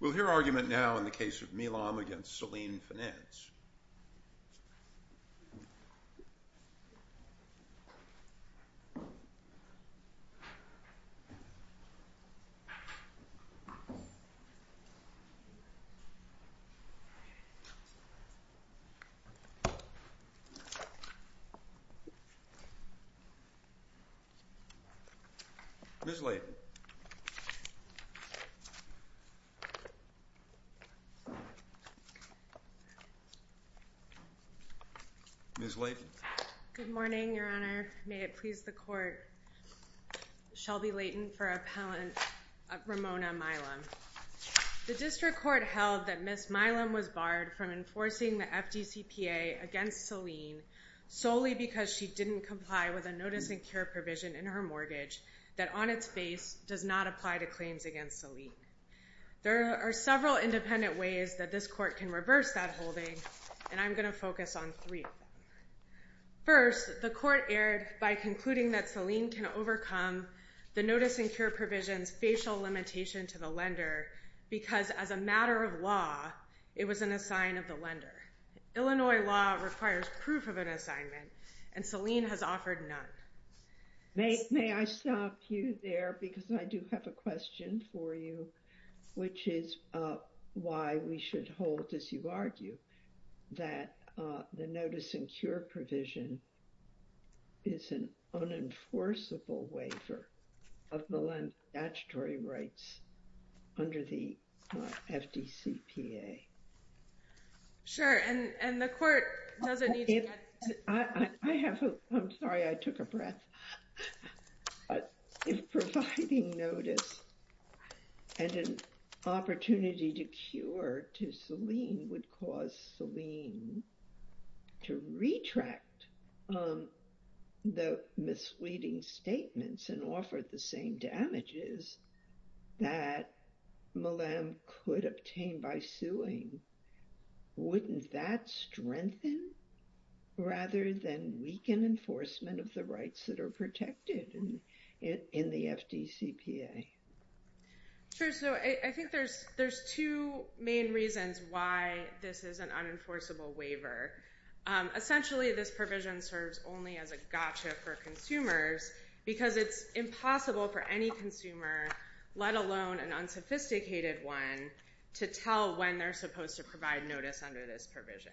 We'll hear argument now in the case of Milam v. Selene Finance. The case of Milam v. Selene Finance Ms. Leighton Good morning, Your Honor. May it please the Court, Shelby Leighton for Appellant Ramona Milam. The District Court held that Ms. Milam was barred from enforcing the FDCPA against Selene solely because she didn't comply with a notice and care provision in her mortgage that on its face does not apply to claims against Selene. There are several independent ways that this Court can reverse that holding, and I'm going to focus on three. First, the Court erred by concluding that Selene can overcome the notice and care provision's facial limitation to the lender because, as a matter of law, it was an assign of the lender. Illinois law requires proof of an assignment, and Selene has offered none. May I stop you there, because I do have a question for you, which is why we should hold, as you argue, that the notice and care provision is an unenforceable waiver of the lender's statutory rights under the FDCPA. Sure, and the Court doesn't need to get to that. I'm sorry, I took a breath. If providing notice and an opportunity to cure to Selene would cause Selene to retract the misleading statements and offer the same damages that Milam could obtain by suing, wouldn't that strengthen rather than weaken enforcement of the rights that are protected in the FDCPA? Sure, so I think there's two main reasons why this is an unenforceable waiver. Essentially, this provision serves only as a gotcha for consumers because it's impossible for any consumer, let alone an unsophisticated one, to tell when they're supposed to provide notice under this provision.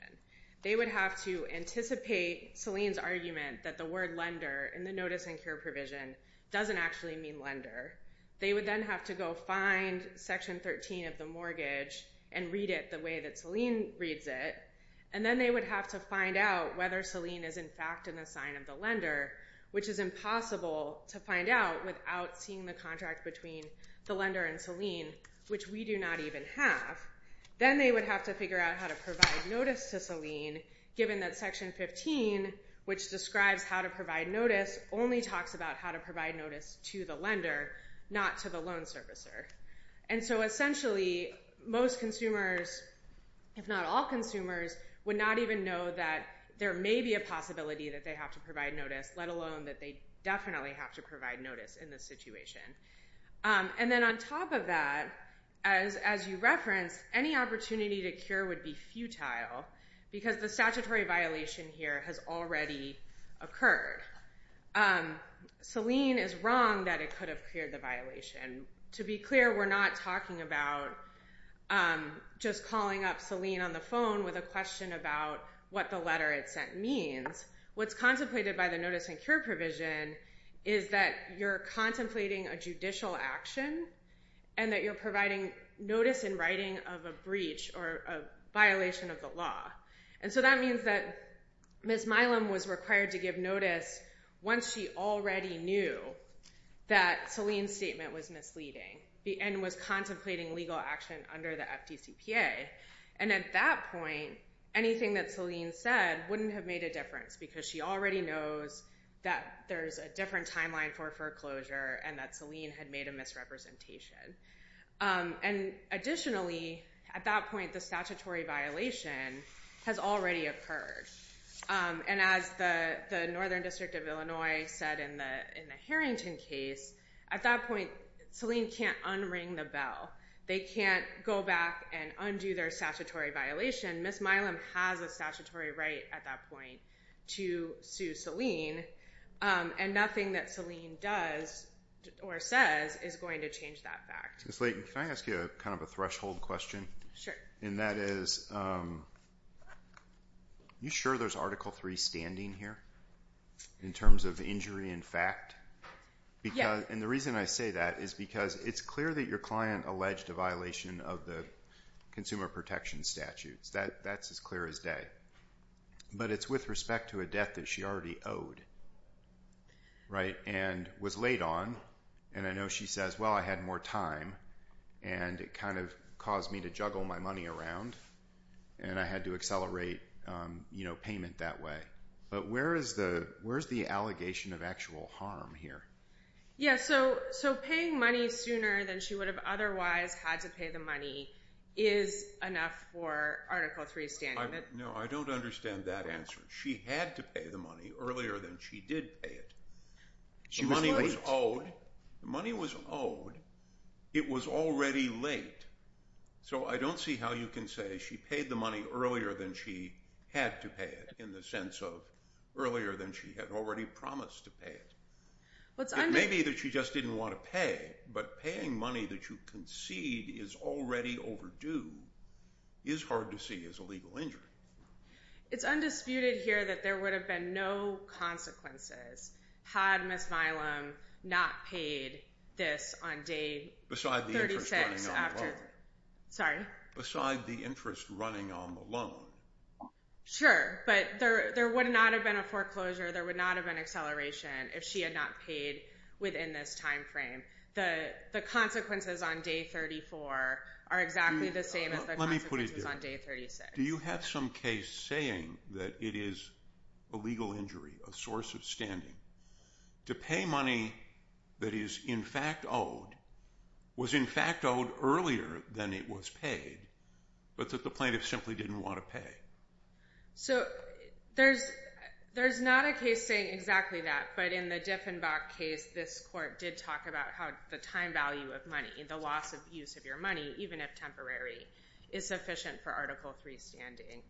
They would have to anticipate Selene's argument that the word lender in the notice and care provision doesn't actually mean lender. They would then have to go find Section 13 of the mortgage and read it the way that Selene reads it, and then they would have to find out whether Selene is in fact in the sign of the lender, which is impossible to find out without seeing the contract between the lender and Selene, which we do not even have. Then they would have to figure out how to provide notice to Selene, given that Section 15, which describes how to provide notice, only talks about how to provide notice to the lender, not to the loan servicer. And so essentially, most consumers, if not all consumers, would not even know that there may be a possibility that they have to provide notice, let alone that they definitely have to provide notice in this situation. And then on top of that, as you referenced, any opportunity to cure would be futile because the statutory violation here has already occurred. Selene is wrong that it could have cleared the violation. To be clear, we're not talking about just calling up Selene on the phone with a question about what the letter it sent means. What's contemplated by the Notice and Cure provision is that you're contemplating a judicial action and that you're providing notice in writing of a breach or a violation of the law. And so that means that Ms. Milam was required to give notice once she already knew that Selene's statement was misleading and was contemplating legal action under the FDCPA. And at that point, anything that Selene said wouldn't have made a difference because she already knows that there's a different timeline for foreclosure and that Selene had made a misrepresentation. And additionally, at that point, the statutory violation has already occurred. And as the Northern District of Illinois said in the Harrington case, at that point, Selene can't unring the bell. They can't go back and undo their statutory violation. Ms. Milam has a statutory right at that point to sue Selene, and nothing that Selene does or says is going to change that fact. Ms. Layton, can I ask you kind of a threshold question? Sure. And that is, are you sure there's Article III standing here in terms of injury in fact? Yeah. And the reason I say that is because it's clear that your client alleged a violation of the consumer protection statutes. That's as clear as day. But it's with respect to a death that she already owed, right, and was laid on. And I know she says, well, I had more time, and it kind of caused me to juggle my money around, and I had to accelerate payment that way. But where is the allegation of actual harm here? Yeah, so paying money sooner than she would have otherwise had to pay the money is enough for Article III standing. No, I don't understand that answer. She had to pay the money earlier than she did pay it. She was late. The money was owed. It was already late. So I don't see how you can say she paid the money earlier than she had to pay it in the sense of earlier than she had already promised to pay it. It may be that she just didn't want to pay, but paying money that you concede is already overdue is hard to see as a legal injury. It's undisputed here that there would have been no consequences had Ms. Milam not paid this on day 36. Beside the interest running on the loan. Sorry? Beside the interest running on the loan. Sure, but there would not have been a foreclosure, there would not have been acceleration if she had not paid within this time frame. The consequences on day 34 are exactly the same as the consequences on day 36. Do you have some case saying that it is a legal injury, a source of standing, to pay money that is in fact owed, was in fact owed earlier than it was paid, but that the plaintiff simply didn't want to pay? So there's not a case saying exactly that, but in the Diffenbach case, this court did talk about how the time value of money, the loss of use of your money, even if temporary, is sufficient for Article III standing.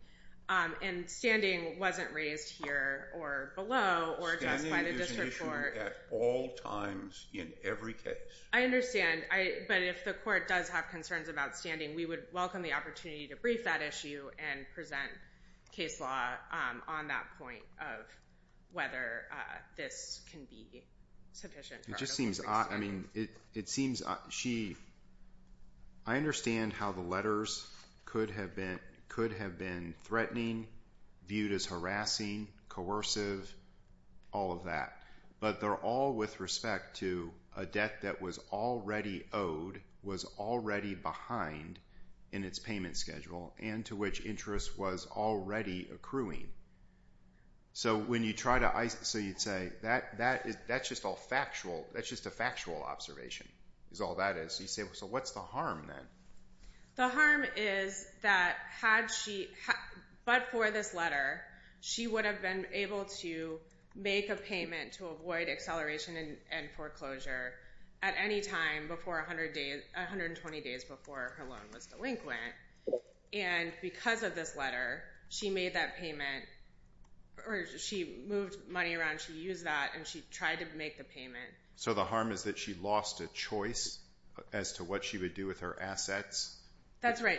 And standing wasn't raised here or below or just by the district court. Standing is mentioned at all times in every case. I understand, but if the court does have concerns about standing, we would welcome the opportunity to brief that issue and present case law on that point of whether this can be sufficient for Article III standing. I understand how the letters could have been threatening, viewed as harassing, coercive, all of that. But they're all with respect to a debt that was already owed, was already behind in its payment schedule, and to which interest was already accruing. So you'd say, that's just a factual observation, is all that is. So what's the harm then? The harm is that, but for this letter, she would have been able to make a payment to avoid acceleration and foreclosure at any time 120 days before her loan was delinquent. And because of this letter, she made that payment, or she moved money around, she used that, and she tried to make the payment. So the harm is that she lost a choice as to what she would do with her assets? That's right.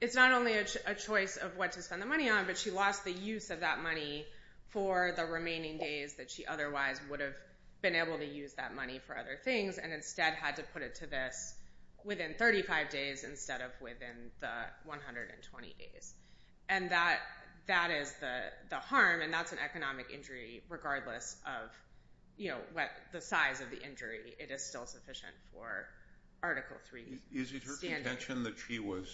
It's not only a choice of what to spend the money on, but she lost the use of that money for the remaining days that she otherwise would have been able to use that money for other things, and instead had to put it to this within 35 days instead of within the 120 days. And that is the harm, and that's an economic injury regardless of the size of the injury. It is still sufficient for Article III standards. Is it her contention that she was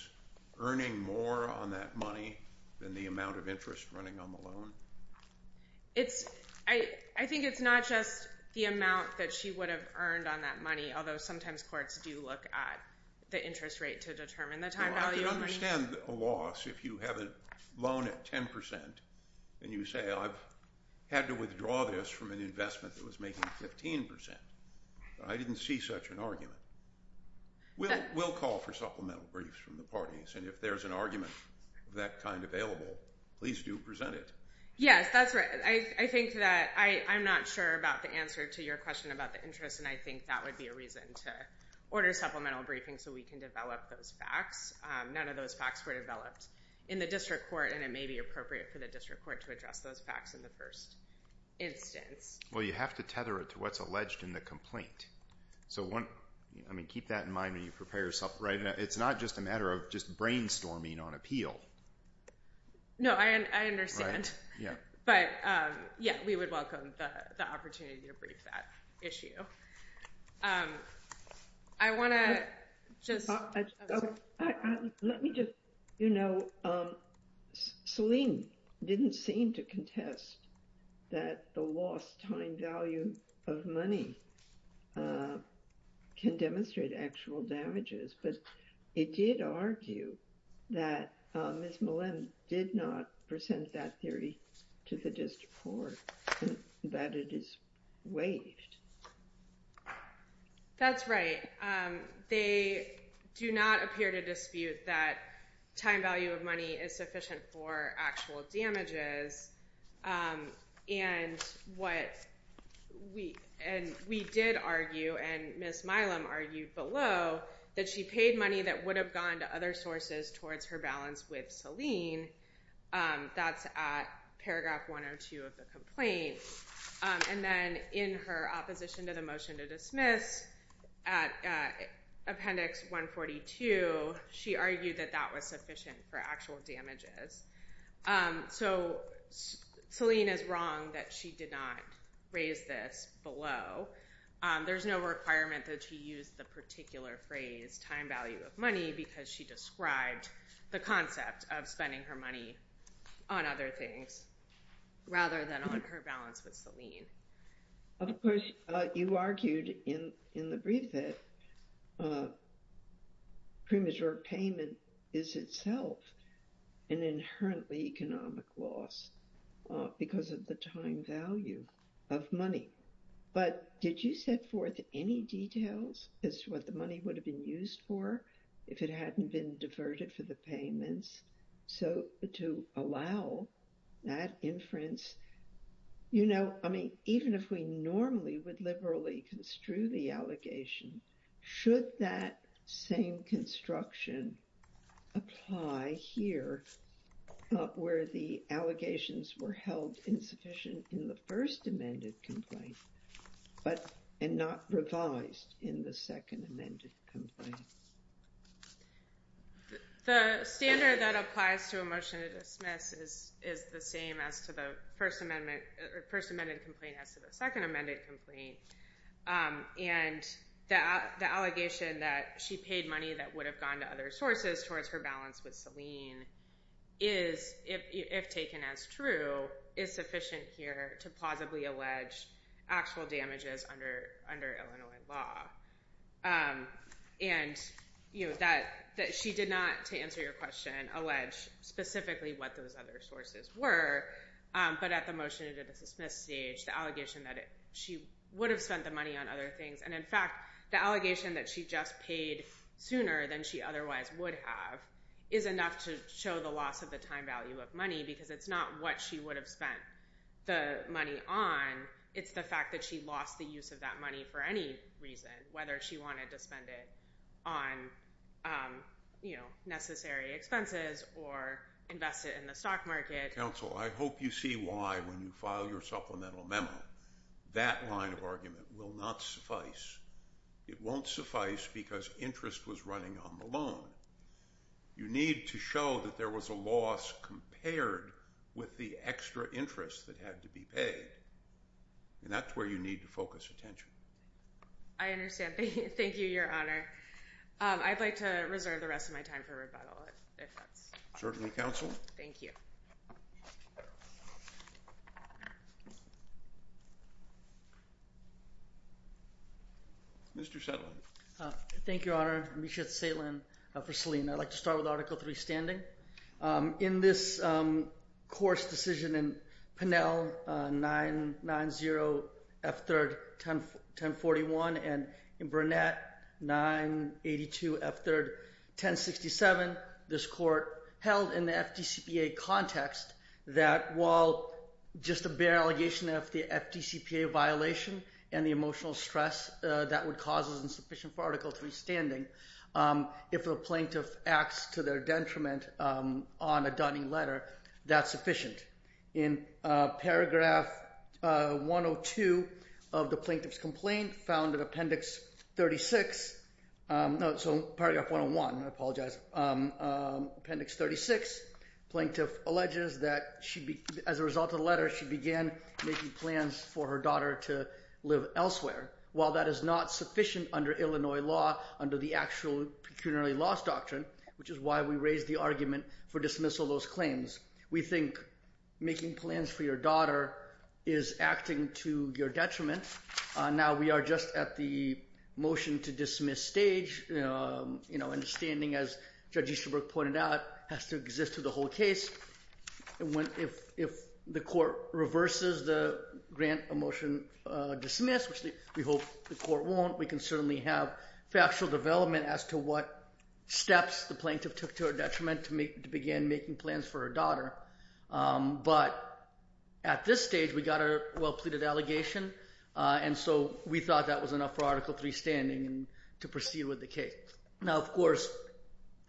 earning more on that money than the amount of interest running on the loan? I think it's not just the amount that she would have earned on that money, although sometimes courts do look at the interest rate to determine the time value of money. I understand a loss if you have a loan at 10% and you say I've had to withdraw this from an investment that was making 15%. I didn't see such an argument. We'll call for supplemental briefs from the parties, and if there's an argument of that kind available, please do present it. Yes, that's right. I think that I'm not sure about the answer to your question about the interest, and I think that would be a reason to order supplemental briefings so we can develop those facts. None of those facts were developed in the district court, and it may be appropriate for the district court to address those facts in the first instance. Well, you have to tether it to what's alleged in the complaint. So keep that in mind when you prepare your supplement. It's not just a matter of just brainstorming on appeal. No, I understand. But, yeah, we would welcome the opportunity to brief that issue. I want to just. Let me just, you know, Selene didn't seem to contest that the lost time value of money can demonstrate actual damages, but it did argue that Ms. Malem did not present that theory to the district court that it is waived. That's right. They do not appear to dispute that time value of money is sufficient for actual damages. And what we and we did argue and Ms. Malem argued below that she paid money that would have gone to other sources towards her balance with Selene. That's at paragraph one or two of the complaint. And then in her opposition to the motion to dismiss at Appendix 142, she argued that that was sufficient for actual damages. So Selene is wrong that she did not raise this below. There's no requirement that she used the particular phrase time value of money because she described the concept of spending her money on other things rather than on her balance with Selene. Of course, you argued in the brief that premature payment is itself an inherently economic loss because of the time value of money. But did you set forth any details as to what the money would have been used for if it hadn't been diverted for the payments? So to allow that inference, you know, I mean, even if we normally would liberally construe the allegation, should that same construction apply here where the allegations were held insufficient in the first amended complaint, but and not revised in the second amended complaint? The standard that applies to a motion to dismiss is the same as to the first amended complaint as to the second amended complaint. And the allegation that she paid money that would have gone to other sources towards her balance with Selene is, if taken as true, is sufficient here to plausibly allege actual damages under Illinois law. And, you know, that she did not, to answer your question, allege specifically what those other sources were. But at the motion to dismiss stage, the allegation that she would have spent the money on other things, and in fact, the allegation that she just paid sooner than she otherwise would have, is enough to show the loss of the time value of money. Because it's not what she would have spent the money on, it's the fact that she lost the use of that money for any reason, whether she wanted to spend it on, you know, necessary expenses or invest it in the stock market. Okay, counsel, I hope you see why, when you file your supplemental memo, that line of argument will not suffice. It won't suffice because interest was running on the loan. You need to show that there was a loss compared with the extra interest that had to be paid. And that's where you need to focus attention. I understand. Thank you, your honor. I'd like to reserve the rest of my time for rebuttal. Certainly, counsel. Thank you. Mr. Sedlin. Thank you, your honor. Misha Sedlin for Selene. I'd like to start with Article III standing. In this court's decision in Pinnell, 990 F. 3rd, 1041, and in Burnett, 982 F. 3rd, 1067, this court held in the FDCPA context that while just a bare allegation of the FDCPA violation and the emotional stress that would cause insufficient for Article III standing, if a plaintiff acts to their detriment on a Dunning letter, that's sufficient. In Paragraph 102 of the plaintiff's complaint found in Appendix 36, no, so Paragraph 101, I apologize, Appendix 36, plaintiff alleges that as a result of the letter, she began making plans for her daughter to live elsewhere. While that is not sufficient under Illinois law, under the actual pecuniary laws doctrine, which is why we raised the argument for dismissal of those claims, we think making plans for your daughter is acting to your detriment. Now, we are just at the motion to dismiss stage. Understanding, as Judge Easterbrook pointed out, has to exist to the whole case. If the court reverses the grant of motion dismissed, which we hope the court won't, we can certainly have factual development as to what steps the plaintiff took to her detriment to begin making plans for her daughter. But at this stage, we got a well-pleaded allegation, and so we thought that was enough for Article III standing to proceed with the case. Now, of course,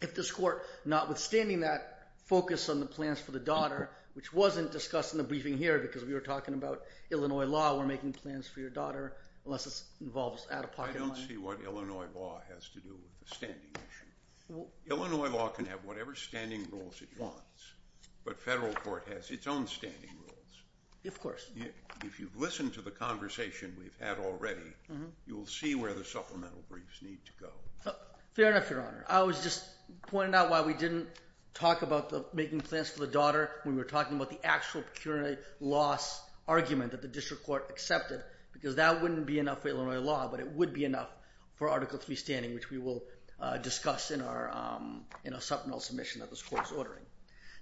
if this court, notwithstanding that focus on the plans for the daughter, which wasn't discussed in the briefing here because we were talking about Illinois law, we're making plans for your daughter, unless this involves out-of-pocket money. I don't see what Illinois law has to do with the standing issue. Illinois law can have whatever standing rules it wants, but federal court has its own standing rules. Of course. If you've listened to the conversation we've had already, you will see where the supplemental briefs need to go. Fair enough, Your Honor. I was just pointing out why we didn't talk about making plans for the daughter when we were talking about the actual procurement loss argument that the district court accepted, because that wouldn't be enough for Illinois law, but it would be enough for Article III standing, which we will discuss in our supplemental submission that this court is ordering.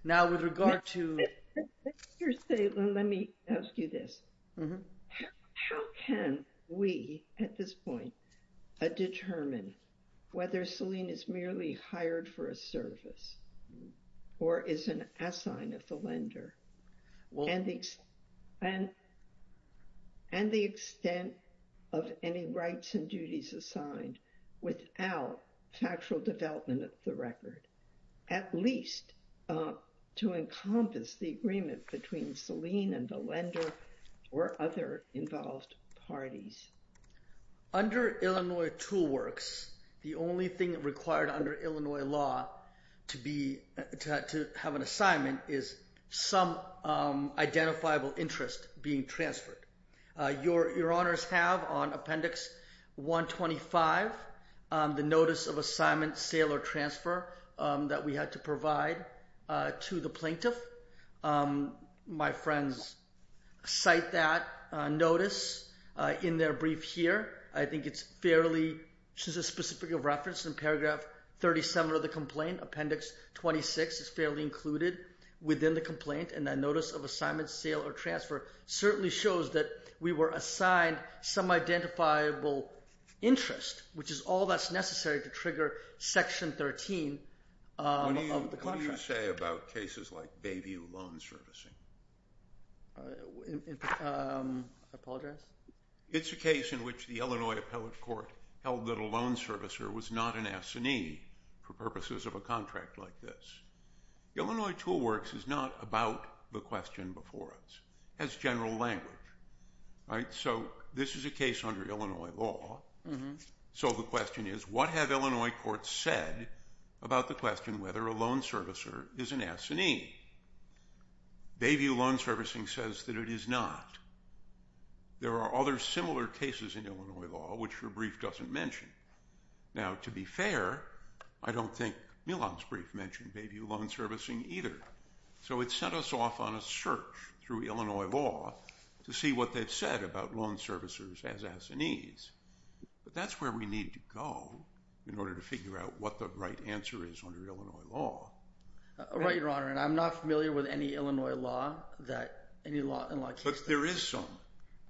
Now, with regard to... Let me ask you this. How can we, at this point, determine whether Selene is merely hired for a service or is an assign of the lender? And the extent of any rights and duties assigned without factual development of the record, at least to encompass the agreement between Selene and the lender or other involved parties? Under Illinois tool works, the only thing required under Illinois law to have an assignment is some identifiable interest being transferred. Your Honors have on Appendix 125 the notice of assignment, sale or transfer that we had to provide to the plaintiff. My friends cite that notice in their brief here. I think it's fairly specific of reference in paragraph 37 of the complaint. Appendix 26 is fairly included within the complaint. And that notice of assignment, sale or transfer certainly shows that we were assigned some identifiable interest, which is all that's necessary to trigger Section 13 of the contract. What do you say about cases like Bayview loan servicing? I apologize? It's a case in which the Illinois Appellate Court held that a loan servicer was not an assignee for purposes of a contract like this. Illinois tool works is not about the question before us. It has general language. So this is a case under Illinois law. So the question is, what have Illinois courts said about the question whether a loan servicer is an assignee? Bayview loan servicing says that it is not. There are other similar cases in Illinois law, which your brief doesn't mention. Now, to be fair, I don't think Milan's brief mentioned Bayview loan servicing either. So it sent us off on a search through Illinois law to see what they've said about loan servicers as assignees. But that's where we need to go in order to figure out what the right answer is under Illinois law. Right, Your Honor. And I'm not familiar with any Illinois law that any law in law case. But there is some,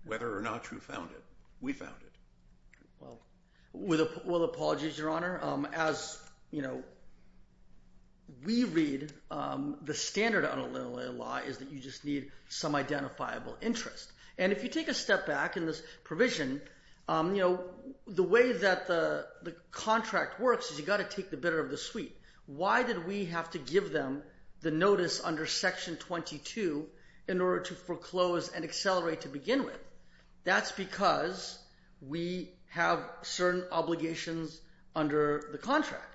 whether or not you found it. We found it. Well, with all apologies, Your Honor. As we read, the standard on Illinois law is that you just need some identifiable interest. And if you take a step back in this provision, the way that the contract works is you've got to take the bitter of the sweet. Why did we have to give them the notice under Section 22 in order to foreclose and accelerate to begin with? That's because we have certain obligations under the contract.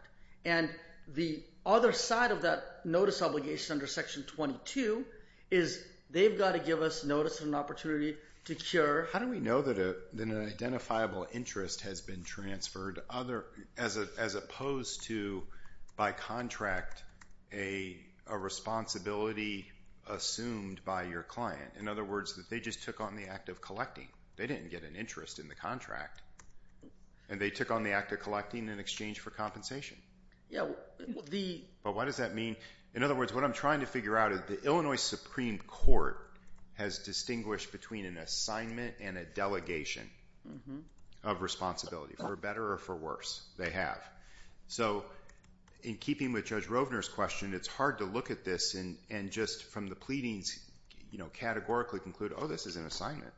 And the other side of that notice obligation under Section 22 is they've got to give us notice of an opportunity to cure. How do we know that an identifiable interest has been transferred as opposed to, by contract, a responsibility assumed by your client? In other words, that they just took on the act of collecting. They didn't get an interest in the contract. And they took on the act of collecting in exchange for compensation. But what does that mean? In other words, what I'm trying to figure out is the Illinois Supreme Court has distinguished between an assignment and a delegation of responsibility, for better or for worse. They have. So, in keeping with Judge Rovner's question, it's hard to look at this and just, from the pleadings, categorically conclude, oh, this is an assignment.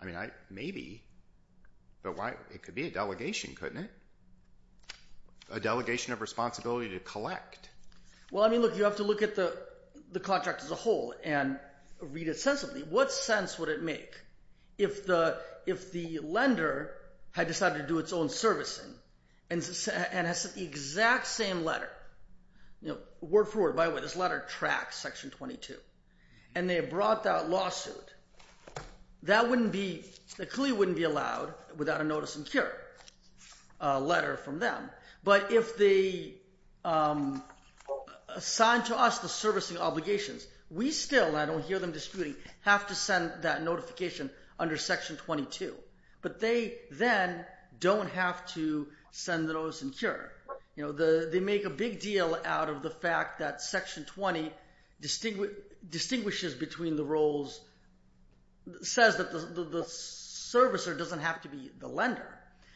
I mean, maybe. But it could be a delegation, couldn't it? A delegation of responsibility to collect. Well, I mean, look, you have to look at the contract as a whole and read it sensibly. What sense would it make if the lender had decided to do its own servicing? And has sent the exact same letter. Word for word, by the way, this letter tracks Section 22. And they have brought that lawsuit. That wouldn't be, the plea wouldn't be allowed without a notice and cure letter from them. But if they assign to us the servicing obligations, we still, I don't hear them disputing, have to send that notification under Section 22. But they then don't have to send the notice and cure. They make a big deal out of the fact that Section 20 distinguishes between the roles, says that the servicer doesn't have to be the lender.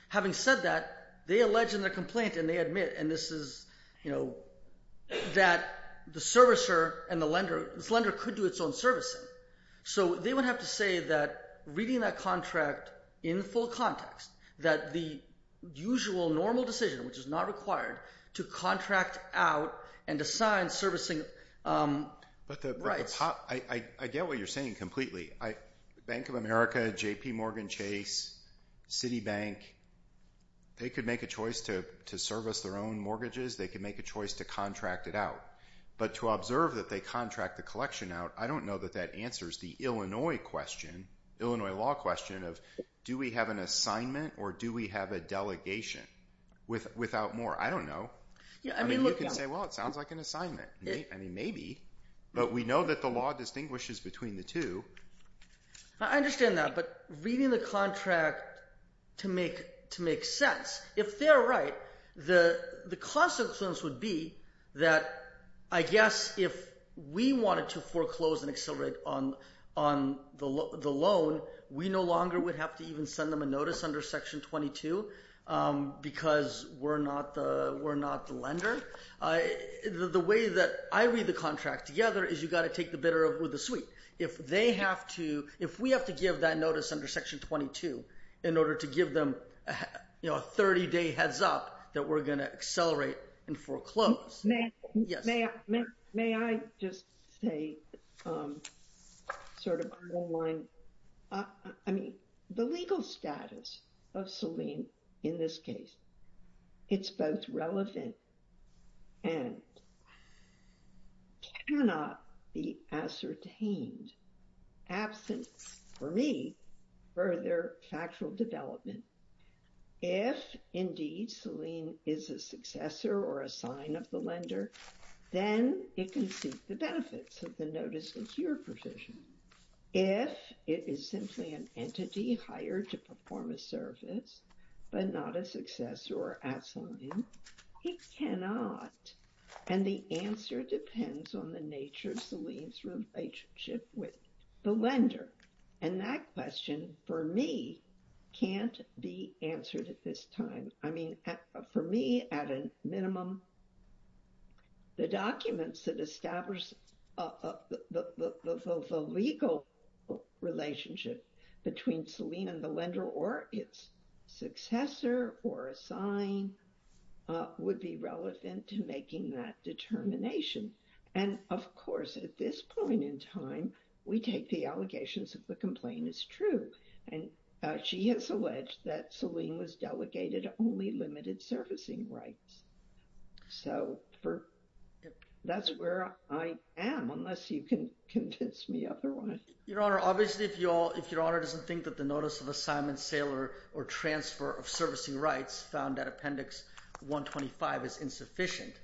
Having said that, they allege in their complaint, and they admit, and this is, you know, that the servicer and the lender, this lender could do its own servicing. So they would have to say that reading that contract in full context, that the usual normal decision, which is not required, to contract out and assign servicing rights. I get what you're saying completely. Bank of America, JPMorgan Chase, Citibank, they could make a choice to service their own mortgages. They could make a choice to contract it out. But to observe that they contract the collection out, I don't know that that answers the Illinois question, Illinois law question of do we have an assignment or do we have a delegation without more? I don't know. I mean you can say, well, it sounds like an assignment. I mean maybe, but we know that the law distinguishes between the two. I understand that, but reading the contract to make sense. If they're right, the consequence would be that I guess if we wanted to foreclose and accelerate on the loan, we no longer would have to even send them a notice under Section 22 because we're not the lender. The way that I read the contract together is you've got to take the bitter with the sweet. If they have to, if we have to give that notice under Section 22 in order to give them a 30-day heads up that we're going to accelerate and foreclose. May I just say sort of on the line, I mean the legal status of Selene in this case, it's both relevant and cannot be ascertained absent for me further factual development. If indeed Selene is a successor or a sign of the lender, then it can seek the benefits of the notice of your provision. If it is simply an entity hired to perform a service, but not a successor or a sign, it cannot. And the answer depends on the nature of Selene's relationship with the lender. And that question for me can't be answered at this time. I mean, for me at a minimum, the documents that establish the legal relationship between Selene and the lender or its successor or a sign would be relevant to making that determination. And of course, at this point in time, we take the allegations that the complaint is true. And she has alleged that Selene was delegated only limited servicing rights. So that's where I am, unless you can convince me otherwise. Your Honor, obviously, if Your Honor doesn't think that the notice of assignment, sale, or transfer of servicing rights found at Appendix 125 is insufficient,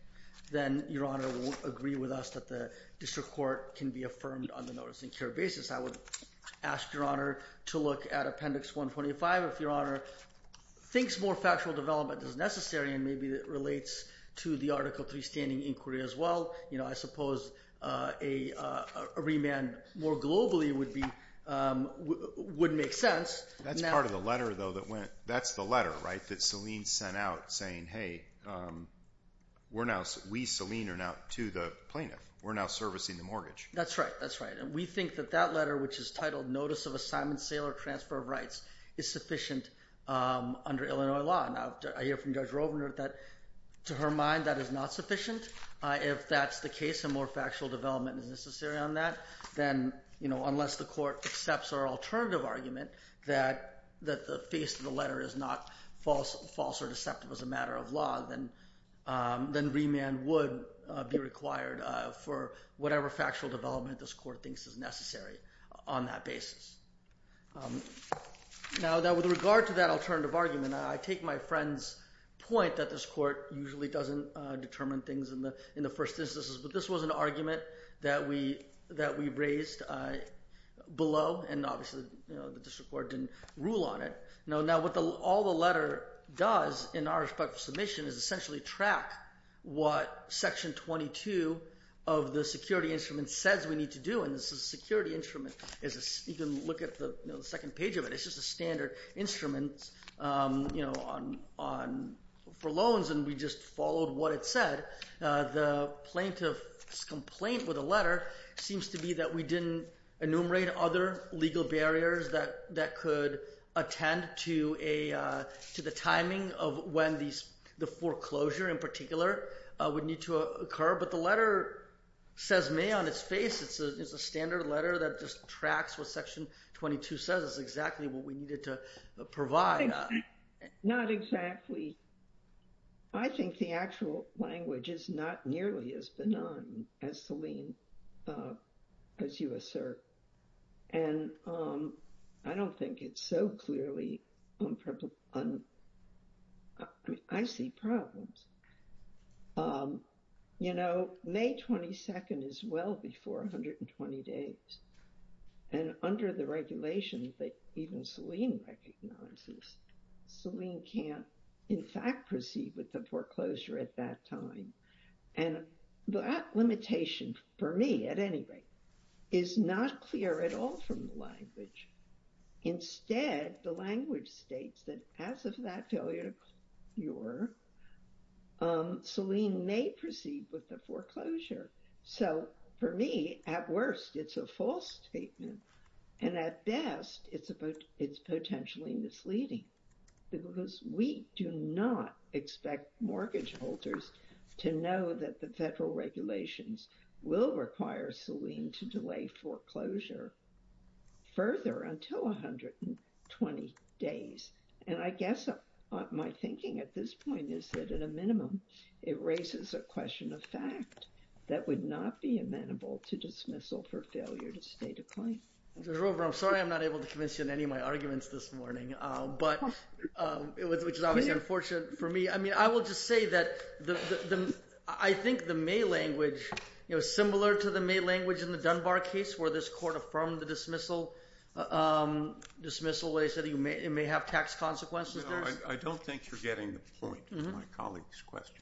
then Your Honor won't agree with us that the district court can be affirmed on the notice-in-care basis. I would ask Your Honor to look at Appendix 125. If Your Honor thinks more factual development is necessary, and maybe it relates to the Article III standing inquiry as well, I suppose a remand more globally would make sense. That's part of the letter, though. That's the letter, right, that Selene sent out saying, hey, we Selene are now to the plaintiff. We're now servicing the mortgage. That's right. That's right. And we think that that letter, which is titled Notice of Assignment, Sale, or Transfer of Rights, is sufficient under Illinois law. Now, I hear from Judge Rovner that, to her mind, that is not sufficient. If that's the case and more factual development is necessary on that, then unless the court accepts our alternative argument that the face of the letter is not false or deceptive as a matter of law, then remand would be required for whatever factual development this court thinks is necessary on that basis. Now, with regard to that alternative argument, I take my friend's point that this court usually doesn't determine things in the first instance, but this was an argument that we raised below, and obviously the district court didn't rule on it. Now, what all the letter does in our respect for submission is essentially track what Section 22 of the security instrument says we need to do, and this is a security instrument. You can look at the second page of it. It's just a standard instrument for loans, and we just followed what it said. The plaintiff's complaint with the letter seems to be that we didn't enumerate other legal barriers that could attend to the timing of when the foreclosure in particular would need to occur, but the letter says may on its face. It's a standard letter that just tracks what Section 22 says is exactly what we needed to provide. Not exactly. I think the actual language is not nearly as benign as Selene, as you assert, and I don't think it's so clearly. I see problems. You know, May 22nd is well before 120 days, and under the regulation that even Selene recognizes, Selene can't in fact proceed with the foreclosure at that time, and that limitation for me at any rate is not clear at all from the language. Instead, the language states that as of that day Selene may proceed with the foreclosure. So for me, at worst, it's a false statement, and at best, it's potentially misleading, because we do not expect mortgage holders to know that the federal regulations will require Selene to delay foreclosure further until 120 days. And I guess my thinking at this point is that at a minimum, it raises a question of fact that would not be amenable to dismissal for failure to state a claim. Mr. Grover, I'm sorry I'm not able to convince you in any of my arguments this morning, which is obviously unfortunate for me. I mean, I will just say that I think the May language, similar to the May language in the Dunbar case where this court affirmed the dismissal, what I said, it may have tax consequences. No, I don't think you're getting the point of my colleague's question.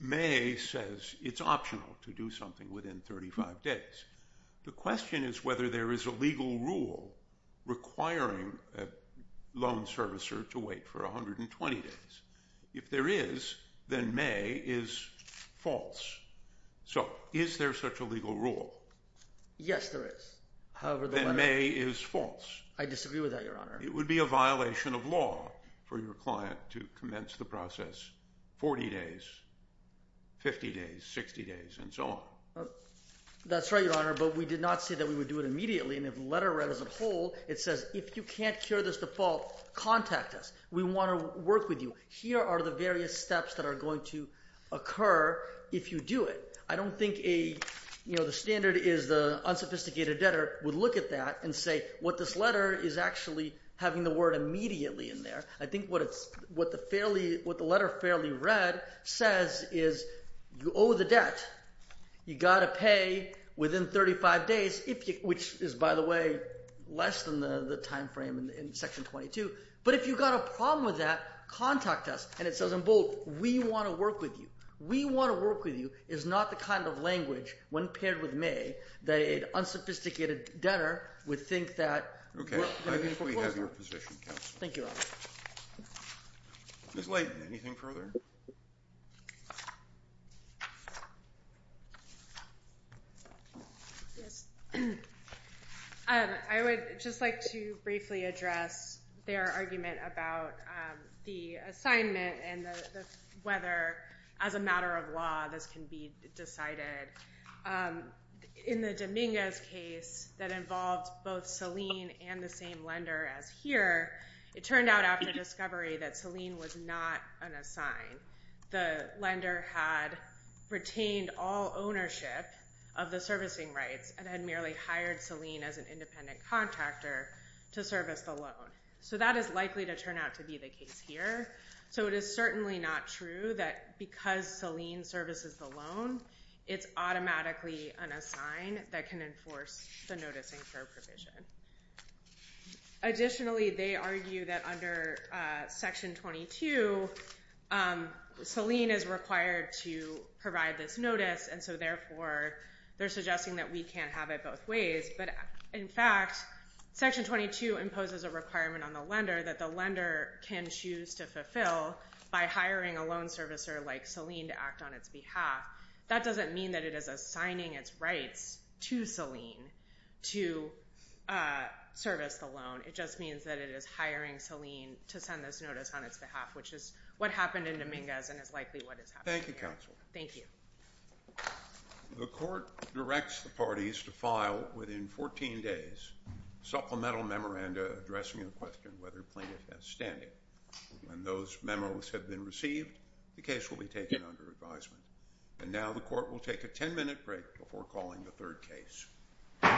May says it's optional to do something within 35 days. The question is whether there is a legal rule requiring a loan servicer to wait for 120 days. If there is, then May is false. So is there such a legal rule? Yes, there is. Then May is false. I disagree with that, Your Honor. It would be a violation of law for your client to commence the process 40 days, 50 days, 60 days, and so on. That's right, Your Honor, but we did not say that we would do it immediately. And if the letter read as a whole, it says if you can't cure this default, contact us. We want to work with you. Here are the various steps that are going to occur if you do it. I don't think a, you know, the standard is the unsophisticated debtor would look at that and say what this letter is actually having the word immediately in there. I think what the letter fairly read says is you owe the debt. You've got to pay within 35 days, which is, by the way, less than the time frame in Section 22. But if you've got a problem with that, contact us. And it says in bold, we want to work with you. We want to work with you is not the kind of language, when paired with May, that an unsophisticated debtor would think that. Okay. I think we have your position, counsel. Thank you all. Ms. Leighton, anything further? I would just like to briefly address their argument about the assignment and whether, as a matter of law, this can be decided. In the Dominguez case that involved both Selene and the same lender as here, it turned out after discovery that Selene was not an assigned. The lender had retained all ownership of the servicing rights and had merely hired Selene as an independent contractor to service the loan. So that is likely to turn out to be the case here. So it is certainly not true that because Selene services the loan, it's automatically an assigned that can enforce the noticing for a provision. Additionally, they argue that under Section 22, Selene is required to provide this notice. And so, therefore, they're suggesting that we can't have it both ways. But, in fact, Section 22 imposes a requirement on the lender that the lender can choose to fulfill by hiring a loan servicer like Selene to act on its behalf. That doesn't mean that it is assigning its rights to Selene to service the loan. It just means that it is hiring Selene to send this notice on its behalf, which is what happened in Dominguez and is likely what is happening here. Thank you, counsel. Thank you. The court directs the parties to file, within 14 days, supplemental memoranda addressing the question whether plaintiff has standing. When those memos have been received, the case will be taken under advisement. And now the court will take a 10-minute break before calling the third case.